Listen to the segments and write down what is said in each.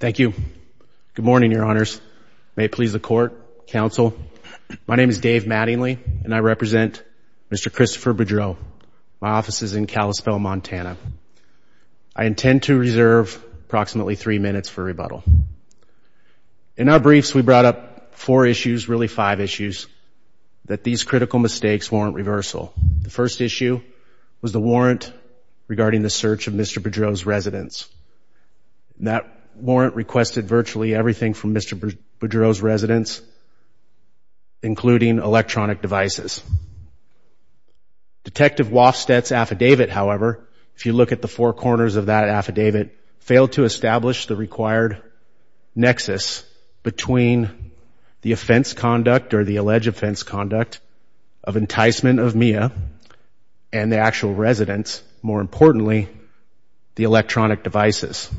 Thank you. Good morning, Your Honors. May it please the Court, Council. My name is Dave Mattingly, and I represent Mr. Christopher Boudreau. My office is in Kalispell, Montana. I intend to reserve approximately three minutes for rebuttal. In our briefs, we brought up four issues, really five issues, that these critical mistakes warrant reversal. The first issue was the warrant regarding the search of Mr. Boudreau's residence. That warrant requested virtually everything from Mr. Boudreau's residence, including electronic devices. Detective Wofstedt's affidavit, however, if you look at the four corners of that affidavit, failed to establish the required nexus between the offense conduct or the alleged offense conduct of enticement of Mia and the actual residence, more importantly, the electronic devices.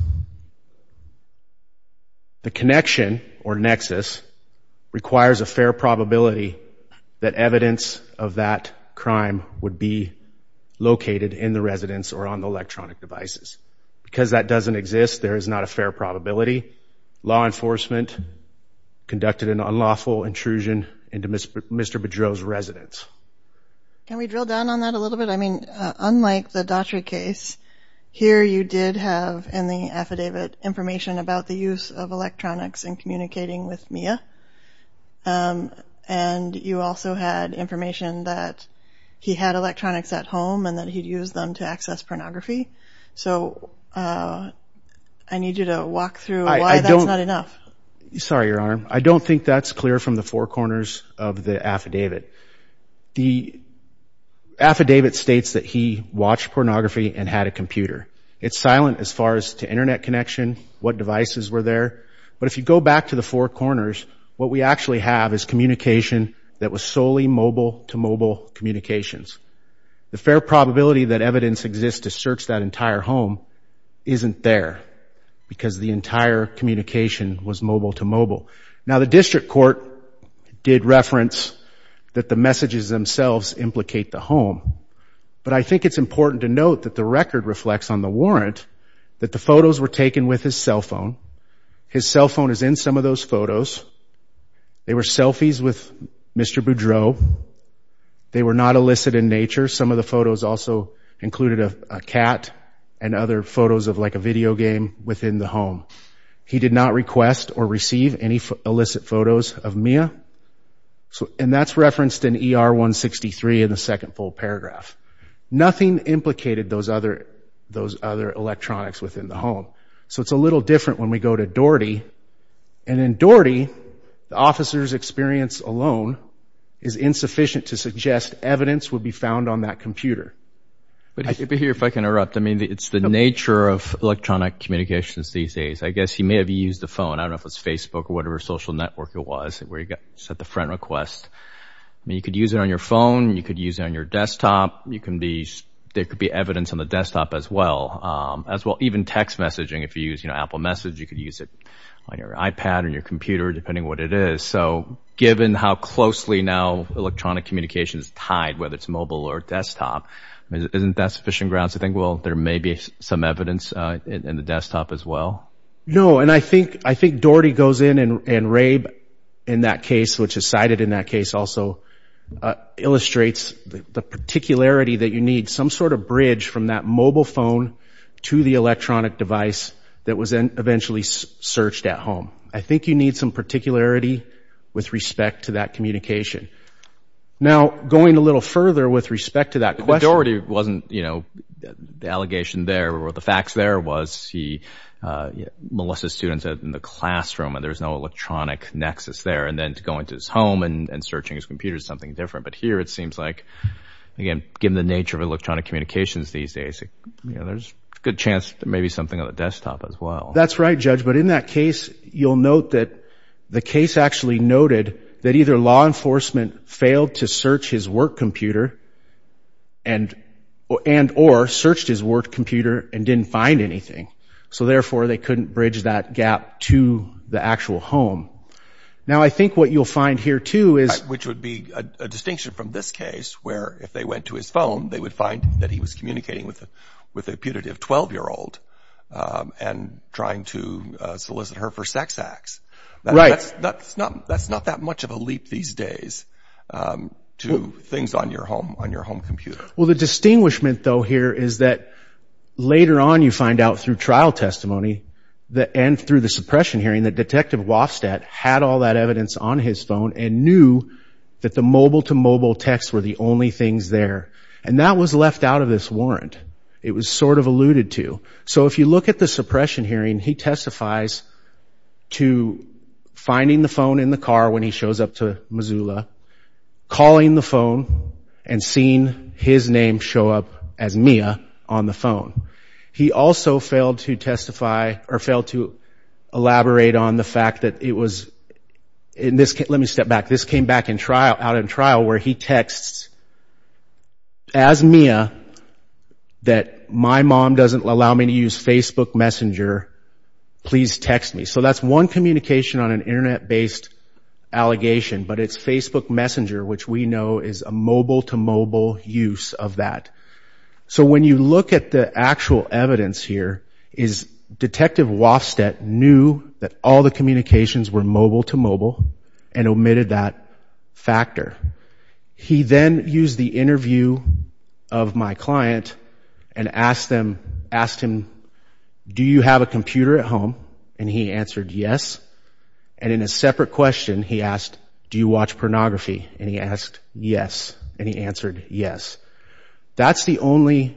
The connection or nexus requires a fair probability that evidence of that crime would be located in the residence or on the electronic devices. Because that doesn't exist, there is not a fair probability. Law enforcement conducted an unlawful intrusion into Mr. Boudreau's residence. Can we drill down on that a little bit? I mean, unlike the Daughtry case, here you did have in the affidavit information about the use of electronics in communicating with Mia, and you also had information that he had electronics at home and that he'd used them to access pornography. So I need you to walk through why that's not enough. Sorry, Your Honor. I don't think that's clear from the four corners of the affidavit. The affidavit states that he watched pornography and had a computer. It's silent as far as to Internet connection, what devices were there. But if you go back to the four corners, what we actually have is communication that was solely mobile-to-mobile communications. The fair probability that evidence exists to search that entire home isn't there because the entire communication was mobile-to-mobile. Now, the district court did reference that the messages themselves implicate the home, but I think it's important to note that the record reflects on the warrant that the photos were taken with his cell phone. His cell phone is in some of those photos. They were selfies with Mr. Boudreau. They were not illicit in nature. Some of the photos also included a cat and other photos of, like, a video game within the home. He did not request or receive any illicit photos of Mia, and that's referenced in ER 163 in the second full paragraph. Nothing implicated those other electronics within the home. So it's a little different when we go to Doherty, and in Doherty, the officer's experience alone is insufficient to suggest evidence would be found on that computer. But here, if I can interrupt, I mean, it's the nature of electronic communications these days. I guess he may have used the phone. I don't know if it was Facebook or whatever social network it was where he set the front request. I mean, you could use it on your phone. You could use it on your desktop. There could be evidence on the desktop as well. Even text messaging, if you use Apple Message, you could use it on your iPad or your computer, depending what it is. So given how closely now electronic communication is tied, whether it's mobile or desktop, isn't that sufficient grounds to think, well, there may be some evidence in the desktop as well? No, and I think Doherty goes in and Rabe, in that case, which is cited in that case also, illustrates the particularity that you need some sort of bridge from that mobile phone to the electronic device that was eventually searched at home. I think you need some particularity with respect to that communication. Now, going a little further with respect to that question. Doherty wasn't, you know, the allegation there or the facts there was he, Melissa's students are in the classroom and there's no electronic nexus there. And then to go into his home and searching his computer is something different. But here it seems like, again, given the nature of electronic communications these days, there's a good chance there may be something on the desktop as well. That's right, Judge. But in that case, you'll note that the case actually noted that either law enforcement failed to search his work computer and or searched his work computer and didn't find anything. So, therefore, they couldn't bridge that gap to the actual home. Now, I think what you'll find here, too, is... Which would be a distinction from this case, where if they went to his phone, they would find that he was communicating with a putative 12-year-old and trying to solicit her for sex acts. That's not that much of a leap these days to things on your home computer. Well, the distinguishment, though, here is that later on you find out through trial testimony and through the suppression hearing that Detective Wofstad had all that evidence on his phone and knew that the mobile-to-mobile texts were the only things there. And that was left out of this warrant. It was sort of alluded to. So if you look at the suppression hearing, he testifies to finding the phone in the car when he shows up to Missoula, calling the phone, and seeing his name show up as Mia on the phone. He also failed to testify or failed to elaborate on the fact that it was... Let me step back. This came back out in trial where he texts as Mia that my mom doesn't allow me to use Facebook Messenger. Please text me. So that's one communication on an Internet-based allegation, but it's Facebook Messenger, which we know is a mobile-to-mobile use of that. So when you look at the actual evidence here, Detective Wofstad knew that all the communications were mobile-to-mobile and omitted that factor. He then used the interview of my client and asked him, do you have a computer at home? And he answered yes. And in a separate question, he asked, do you watch pornography? And he asked yes, and he answered yes. That's the only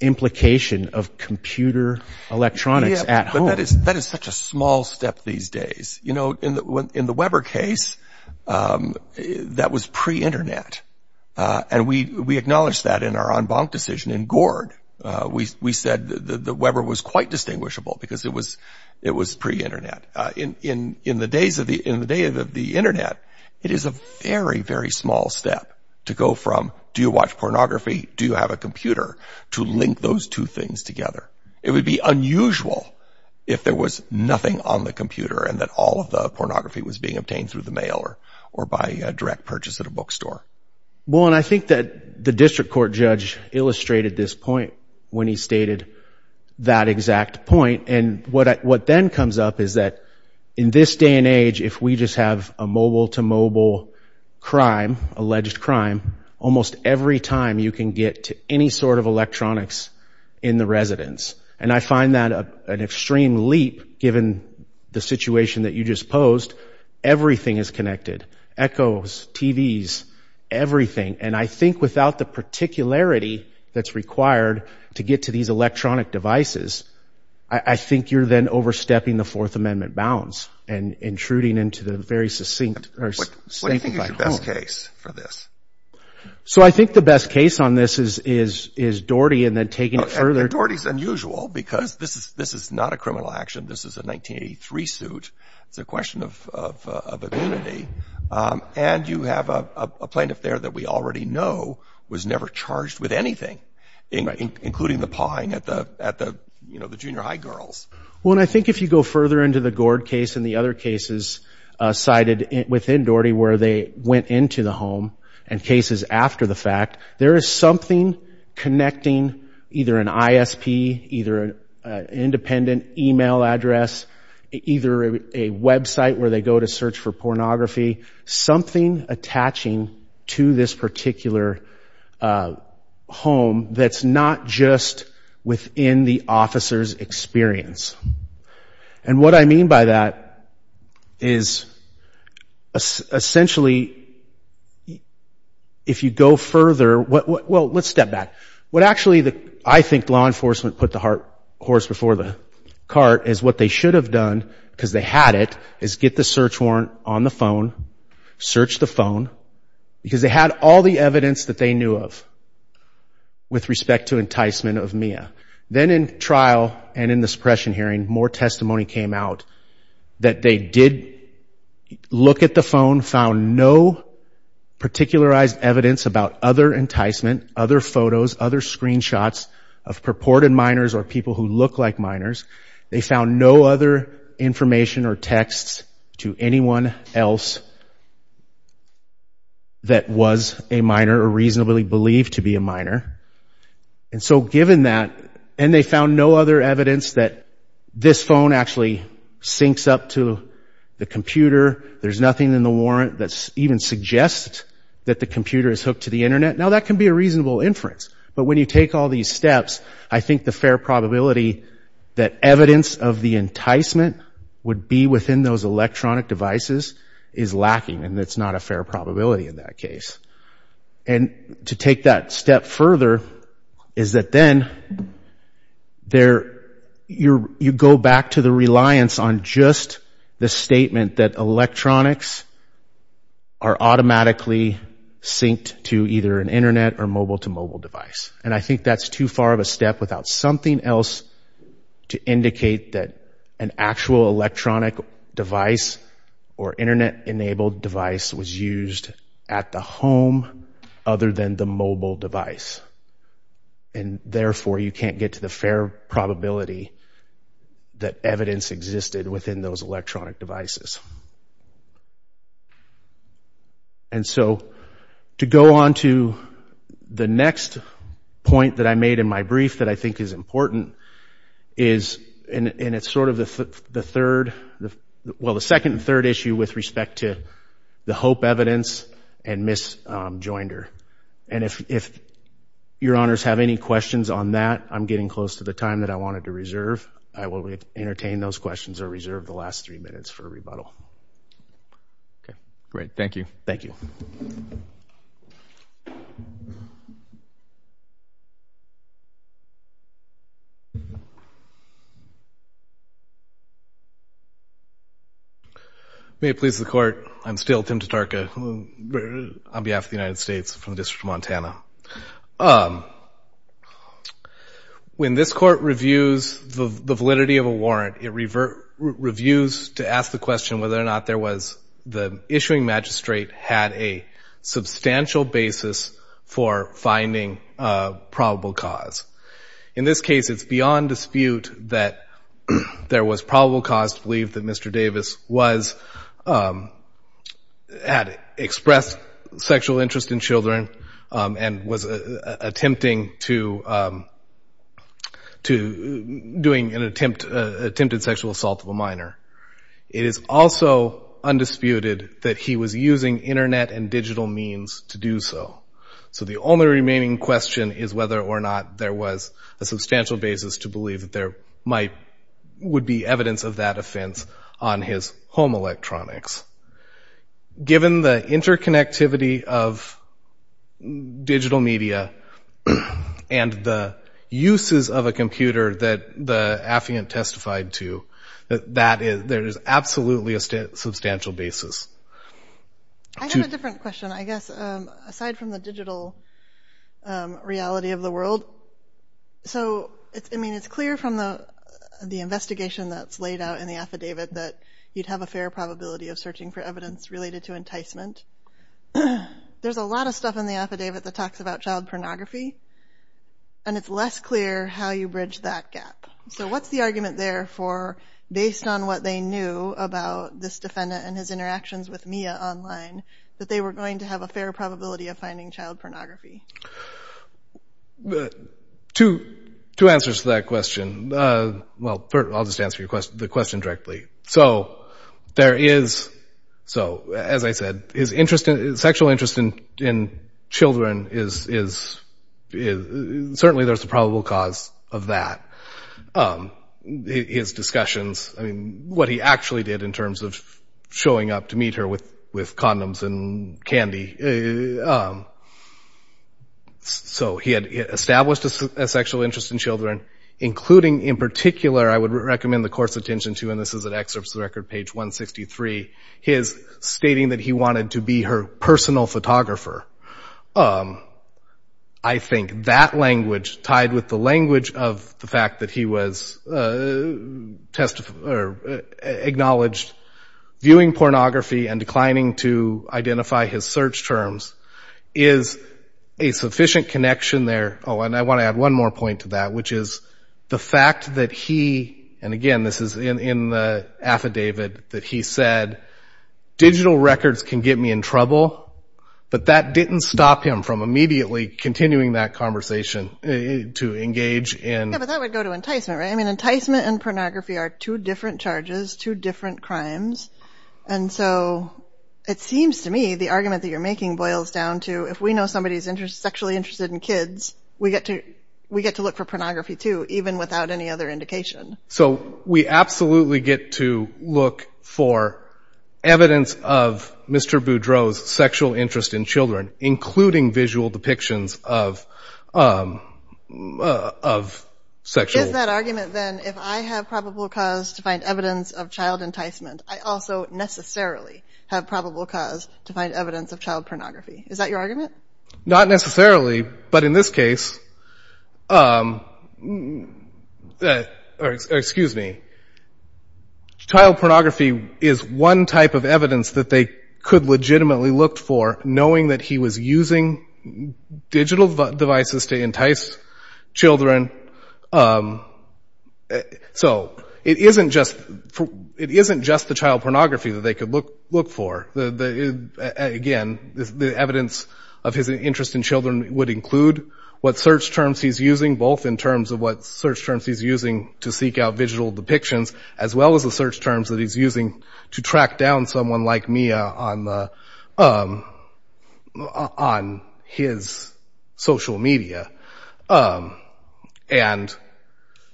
implication of computer electronics at home. But that is such a small step these days. You know, in the Weber case, that was pre-Internet, and we acknowledged that in our en banc decision in Gord. We said that Weber was quite distinguishable because it was pre-Internet. In the days of the Internet, it is a very, very small step to go from, do you watch pornography, do you have a computer, to link those two things together. It would be unusual if there was nothing on the computer and that all of the pornography was being obtained through the mail or by a direct purchase at a bookstore. Well, and I think that the district court judge illustrated this point when he stated that exact point. And what then comes up is that in this day and age, if we just have a mobile-to-mobile crime, alleged crime, almost every time you can get to any sort of electronics in the residence. And I find that an extreme leap, given the situation that you just posed. Everything is connected. Echoes, TVs, everything. And I think without the particularity that's required to get to these electronic devices, I think you're then overstepping the Fourth Amendment bounds and intruding into the very succinct or safe place at home. So I think the best case on this is Doherty and then taking it further. And Doherty's unusual because this is not a criminal action. This is a 1983 suit. It's a question of immunity. And you have a plaintiff there that we already know was never charged with anything, including the pawing at the junior high girls. Well, and I think if you go further into the Gord case and the other cases cited within Doherty where they went into the home and cases after the fact, there is something connecting either an ISP, either an independent email address, either a website where they go to search for pornography, something attaching to this particular home that's not just within the officer's experience. And what I mean by that is essentially if you go further, well, let's step back. What actually I think law enforcement put the horse before the cart is what they should have done because they had it, is get the search warrant on the phone, search the phone, because they had all the evidence that they knew of with respect to enticement of Mia. Then in trial and in the suppression hearing, more testimony came out that they did look at the phone, found no particularized evidence about other enticement, other photos, other screenshots of purported minors or people who look like minors. They found no other information or texts to anyone else that was a minor or reasonably believed to be a minor. And they found no other evidence that this phone actually syncs up to the computer, there's nothing in the warrant that even suggests that the computer is hooked to the Internet. Now that can be a reasonable inference, but when you take all these steps, I think the fair probability that evidence of the enticement would be within those electronic devices is lacking, and it's not a fair probability in that case. And to take that step further is that then you go back to the reliance on just the statement that electronics are automatically synced to either an Internet or mobile-to-mobile device. And I think that's too far of a step without something else to indicate that an actual electronic device or Internet-enabled device was used at the home other than the mobile device. And therefore you can't get to the fair probability that evidence existed within those electronic devices. And so to go on to the next point that I made in my brief that I think is important, and it's sort of the second and third issue with respect to the hope evidence and Miss Joinder. And if your honors have any questions on that, I'm getting close to the time that I wanted to reserve. I will entertain those questions or reserve the last three minutes for rebuttal. Okay, great. Thank you. Tim Totarka May it please the Court, I'm still Tim Totarka on behalf of the United States from the District of Montana. When this Court reviews the validity of a warrant, it reviews to ask the question whether or not the issuing magistrate had a substantial basis for finding a probable cause. In this case, it's beyond dispute that there was probable cause to believe that Mr. Davis had expressed sexual interest in children and was attempting to do an attempted sexual assault of a minor. It is also undisputed that he was using Internet and digital means to do so. So the only remaining question is whether or not there was a substantial basis to believe that there would be evidence of that offense on his home electronics. Given the interconnectivity of digital media and the uses of a computer that the affiant testified to, there is absolutely a substantial basis. I have a different question, I guess, aside from the digital reality of the world. So, I mean, it's clear from the investigation that's laid out in the affidavit that you'd have a fair probability of searching for evidence related to enticement. There's a lot of stuff in the affidavit that talks about child pornography, and it's less clear how you bridge that gap. So what's the argument there for, based on what they knew about this defendant and his interactions with Mia online, that they were going to have a fair probability of finding child pornography? Two answers to that question. Well, I'll just answer the question directly. So, as I said, his sexual interest in children, certainly there's a probable cause of that. His discussions, I mean, what he actually did in terms of showing up to meet her with condoms and candy. So he had established a sexual interest in children, including in particular, I would recommend the course attention to, and this is an excerpt from the record, page 163, his stating that he wanted to be her personal photographer. I think that language, tied with the language of the fact that he was acknowledged viewing pornography and declining to identify his search terms, is a sufficient connection there. Oh, and I want to add one more point to that, which is the fact that he, and again, this is in the affidavit that he said, digital records can get me in trouble, but that didn't stop him from immediately continuing that conversation to engage in... Yeah, but that would go to enticement, right? I mean, enticement and pornography are two different charges, two different crimes, and so it seems to me the argument that you're making boils down to, if we know somebody is sexually interested in kids, we get to look for pornography too, even without any other indication. So we absolutely get to look for evidence of Mr. Boudreaux's sexual interest in children, including visual depictions of sexual... Is that argument, then, if I have probable cause to find evidence of child enticement, I also necessarily have probable cause to find evidence of child pornography. Is that your argument? Not necessarily, but in this case... Excuse me. Child pornography is one type of evidence that they could legitimately look for, knowing that he was using digital devices to entice children. So it isn't just the child pornography that they could look for. Again, the evidence of his interest in children would include what search terms he's using, both in terms of what search terms he's using to seek out visual depictions, as well as the search terms that he's using to track down someone like Mia on his social media. And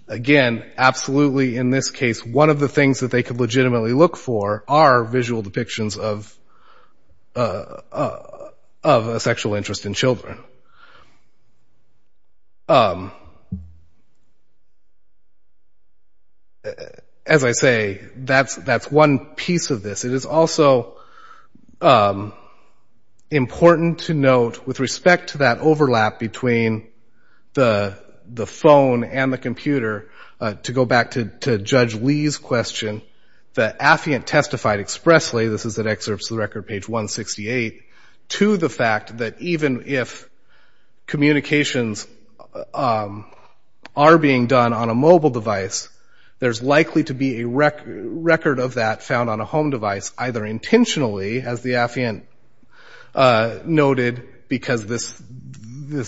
again, absolutely, in this case, one of the things that they could legitimately look for are visual depictions of a sexual interest in children. As I say, that's one piece of this. It is also important to note, with respect to that overlap between the phone and the computer, to go back to Judge Lee's question, that Affiant testified expressly, this is in excerpts of the record, page 168, to the fact that even if communications are being done on a mobile device, there's likely to be a record of that found on a home device, either intentionally, as the Affiant noted, because this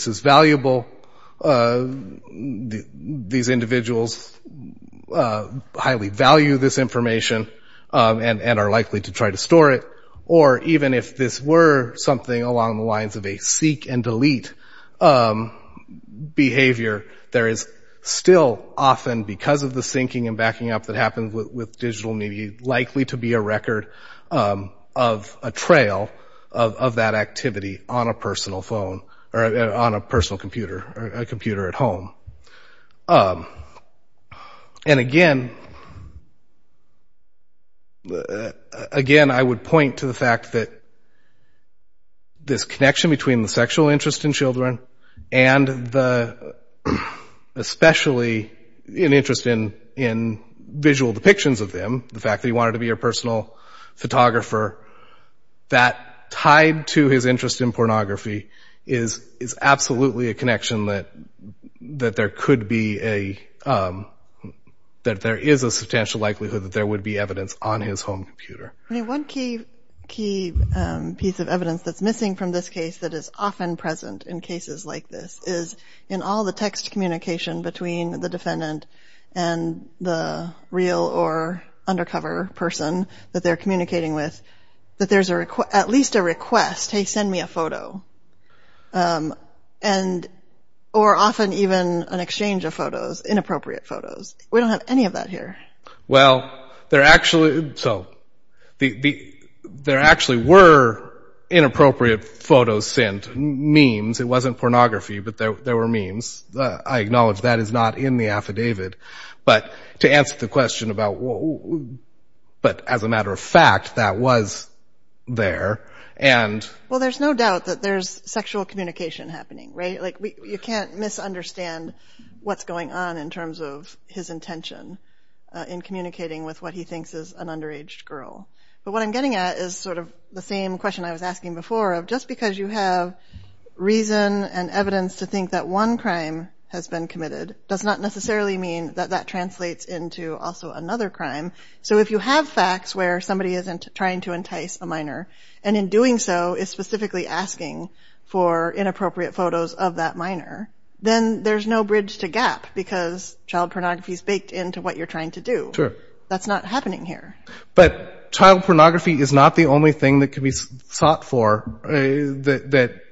is valuable, these individuals highly value this information and are likely to try to store it, or even if this were something along the lines of a seek and delete behavior, there is still often, because of the syncing and backing up that happens with digital media, likely to be a record of a trail of that activity on a personal phone, or on a personal computer, a computer at home. And again, I would point to the fact that this connection between the sexual interest in children, and especially an interest in visual depictions of them, the fact that he wanted to be a personal photographer, that tied to his interest in pornography is absolutely a connection that there is a substantial likelihood that there would be evidence on his home computer. One key piece of evidence that's missing from this case that is often present in cases like this is in all the text communication between the defendant and the real or undercover person that they're communicating with, that there's at least a request, hey, send me a photo, or often even an exchange of photos, inappropriate photos. We don't have any of that here. Well, there actually were inappropriate photos sent, memes. It wasn't pornography, but there were memes. I acknowledge that is not in the affidavit, but as a matter of fact, that was there. Well, there's no doubt that there's sexual communication happening, right? You can't misunderstand what's going on in terms of his intention in communicating with what he thinks is an underage girl. But what I'm getting at is sort of the same question I was asking before of just because you have reason and evidence to think that one crime has been committed does not necessarily mean that that translates into also another crime. So if you have facts where somebody isn't trying to entice a minor, and in doing so is specifically asking for inappropriate photos of that minor, then there's no bridge to gap because child pornography is baked into what you're trying to do. That's not happening here. But child pornography is not the only thing that can be sought for.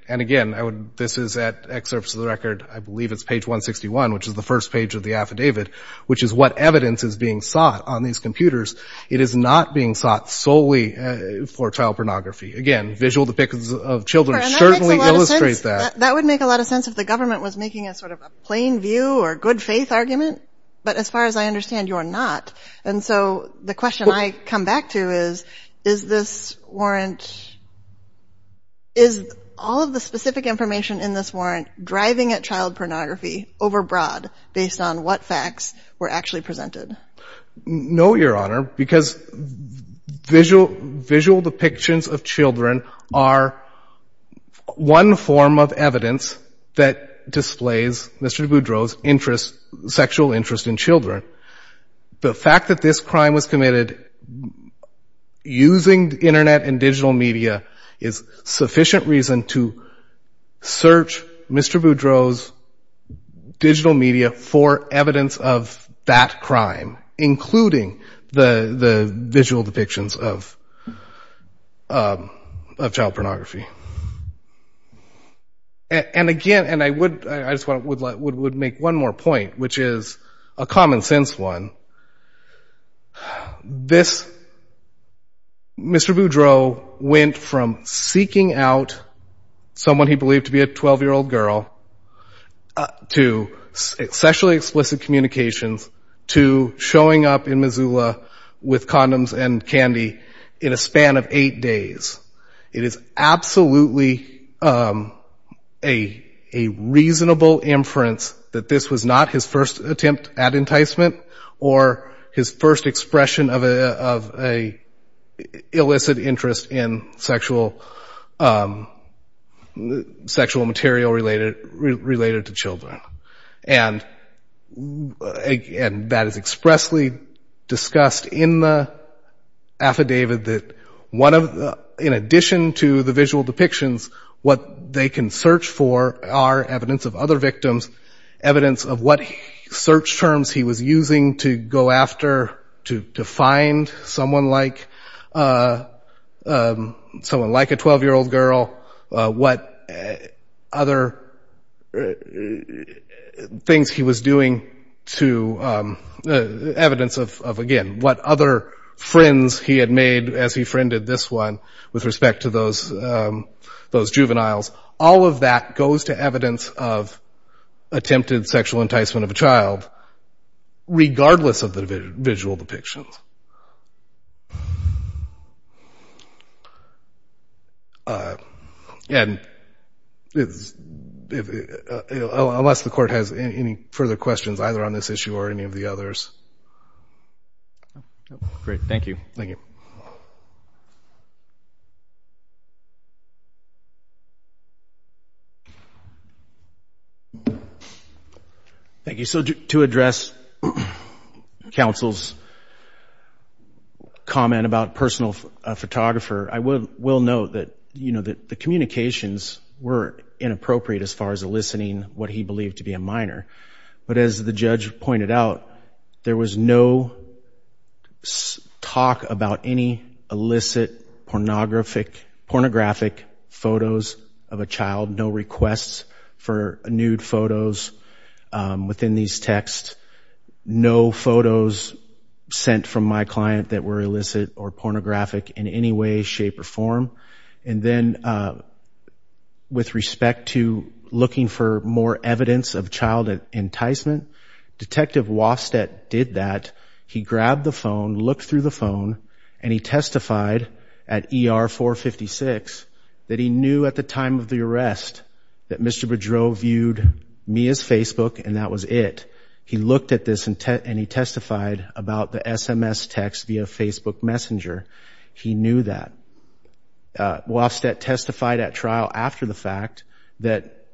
And again, this is at excerpts of the record, I believe it's page 161, which is the first page of the affidavit, which is what evidence is being sought on these computers. It is not being sought solely for child pornography. Again, visual depictions of children certainly illustrate that. That would make a lot of sense if the government was making a sort of plain view or good faith argument. But as far as I understand, you're not. And so the question I come back to is, is this warrant, is all of the specific information in this warrant driving at child pornography overbroad based on what facts were actually presented? No, Your Honor, because visual depictions of children are one form of evidence that displays Mr. DeBoudreau's sexual interest in children. The fact that this crime was committed using Internet and digital media is sufficient reason to search Mr. DeBoudreau's digital media for evidence of that crime, including the visual depictions of child pornography. And again, and I would make one more point, which is a common sense one. Mr. DeBoudreau went from seeking out someone he believed to be a 12-year-old girl, to sexually explicit communications, to showing up in Missoula with condoms and candy in a span of eight days. It is absolutely a reasonable inference that this was not his first attempt at enticement or his first expression of an illicit interest in sexual material-related activities. And that is expressly discussed in the affidavit that one of the, in addition to the visual depictions, what they can search for are evidence of other victims, evidence of what search terms he was using to go after, to find someone like, someone like a 12-year-old girl. What other things he was doing to, evidence of, again, what other friends he had made as he friended this one with respect to those juveniles. All of that goes to evidence of attempted sexual enticement of a child, regardless of the visual depictions. And unless the court has any further questions, either on this issue or any of the others. Great. Thank you. Thank you. So to address counsel's comment about personal photographer, I will note that the communications were inappropriate as far as eliciting what he believed to be a minor. But as the judge pointed out, there was no talk about any illicit pornographic photos of a child, no requests for nude photos within these texts, no photos sent from my client that were illicit or pornographic in any way, shape, or form. And then with respect to looking for more evidence of child enticement, Detective Wofstedt did that. He grabbed the phone, looked through the phone, and he testified at ER 456 that he knew at the time of the arrest that Mr. Boudreau viewed me as Facebook and that was it. He looked at this and he testified about the SMS text via Facebook Messenger. He knew that. Wofstedt testified at trial after the fact that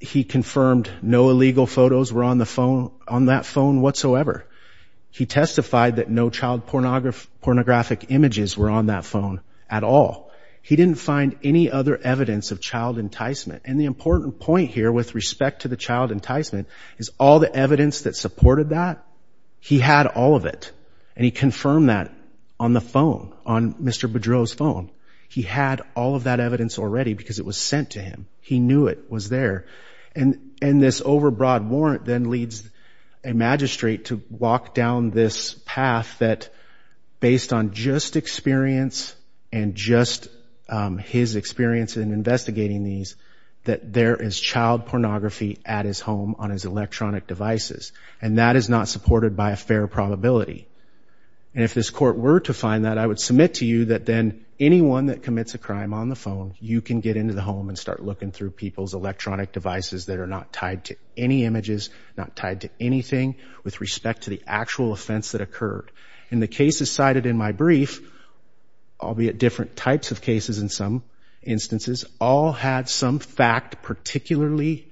he confirmed no illegal photos were on that phone whatsoever. He testified that no child pornographic images were on that phone at all. He didn't find any other evidence of child enticement. And the important point here with respect to the child enticement is all the evidence that supported that, he had all of it. And he confirmed that on the phone, on Mr. Boudreau's phone. He had all of that evidence already because it was sent to him. He knew it was there. And this overbroad warrant then leads a magistrate to walk down this path that based on just experience and just his experience in investigating these, that there is child pornography at his home on his electronic devices. And that is not supported by a fair probability. And if this court were to find that, I would submit to you that then anyone that commits a crime on the phone, you can get into the home and start looking through people's electronic devices that are not tied to any images, not tied to anything with respect to the actual offense that occurred. And the cases cited in my brief, albeit different types of cases in some instances, all had some fact particularly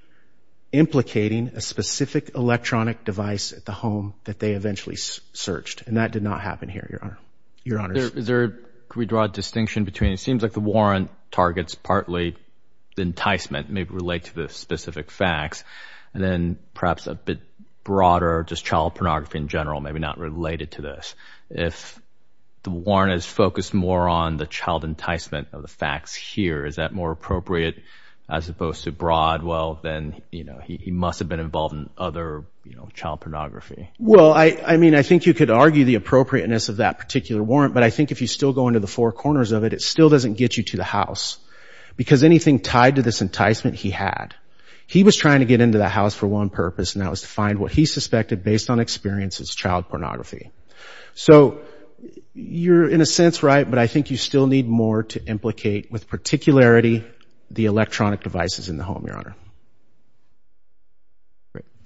implicating a specific electronic device at the home that they eventually searched. And that did not happen here, Your Honor. Your Honor. Could we draw a distinction between, it seems like the warrant targets partly the enticement, maybe relate to the specific facts, and then perhaps a bit broader, just child pornography in general, maybe not related to this. If the warrant is focused more on the child enticement of the facts here, is that more appropriate as opposed to broad? Well, then, you know, he must have been involved in other, you know, child pornography. Well, I mean, I think you could argue the appropriateness of that particular warrant, but I think if you still go into the four corners of it, it still doesn't get you to the house. Because anything tied to this enticement, he had. He was trying to get into the house for one purpose, and that was to find what he suspected, based on experience, is child pornography. So you're in a sense right, but I think you still need more to implicate, with particularity, the electronic devices in the home, Your Honor. Thank you.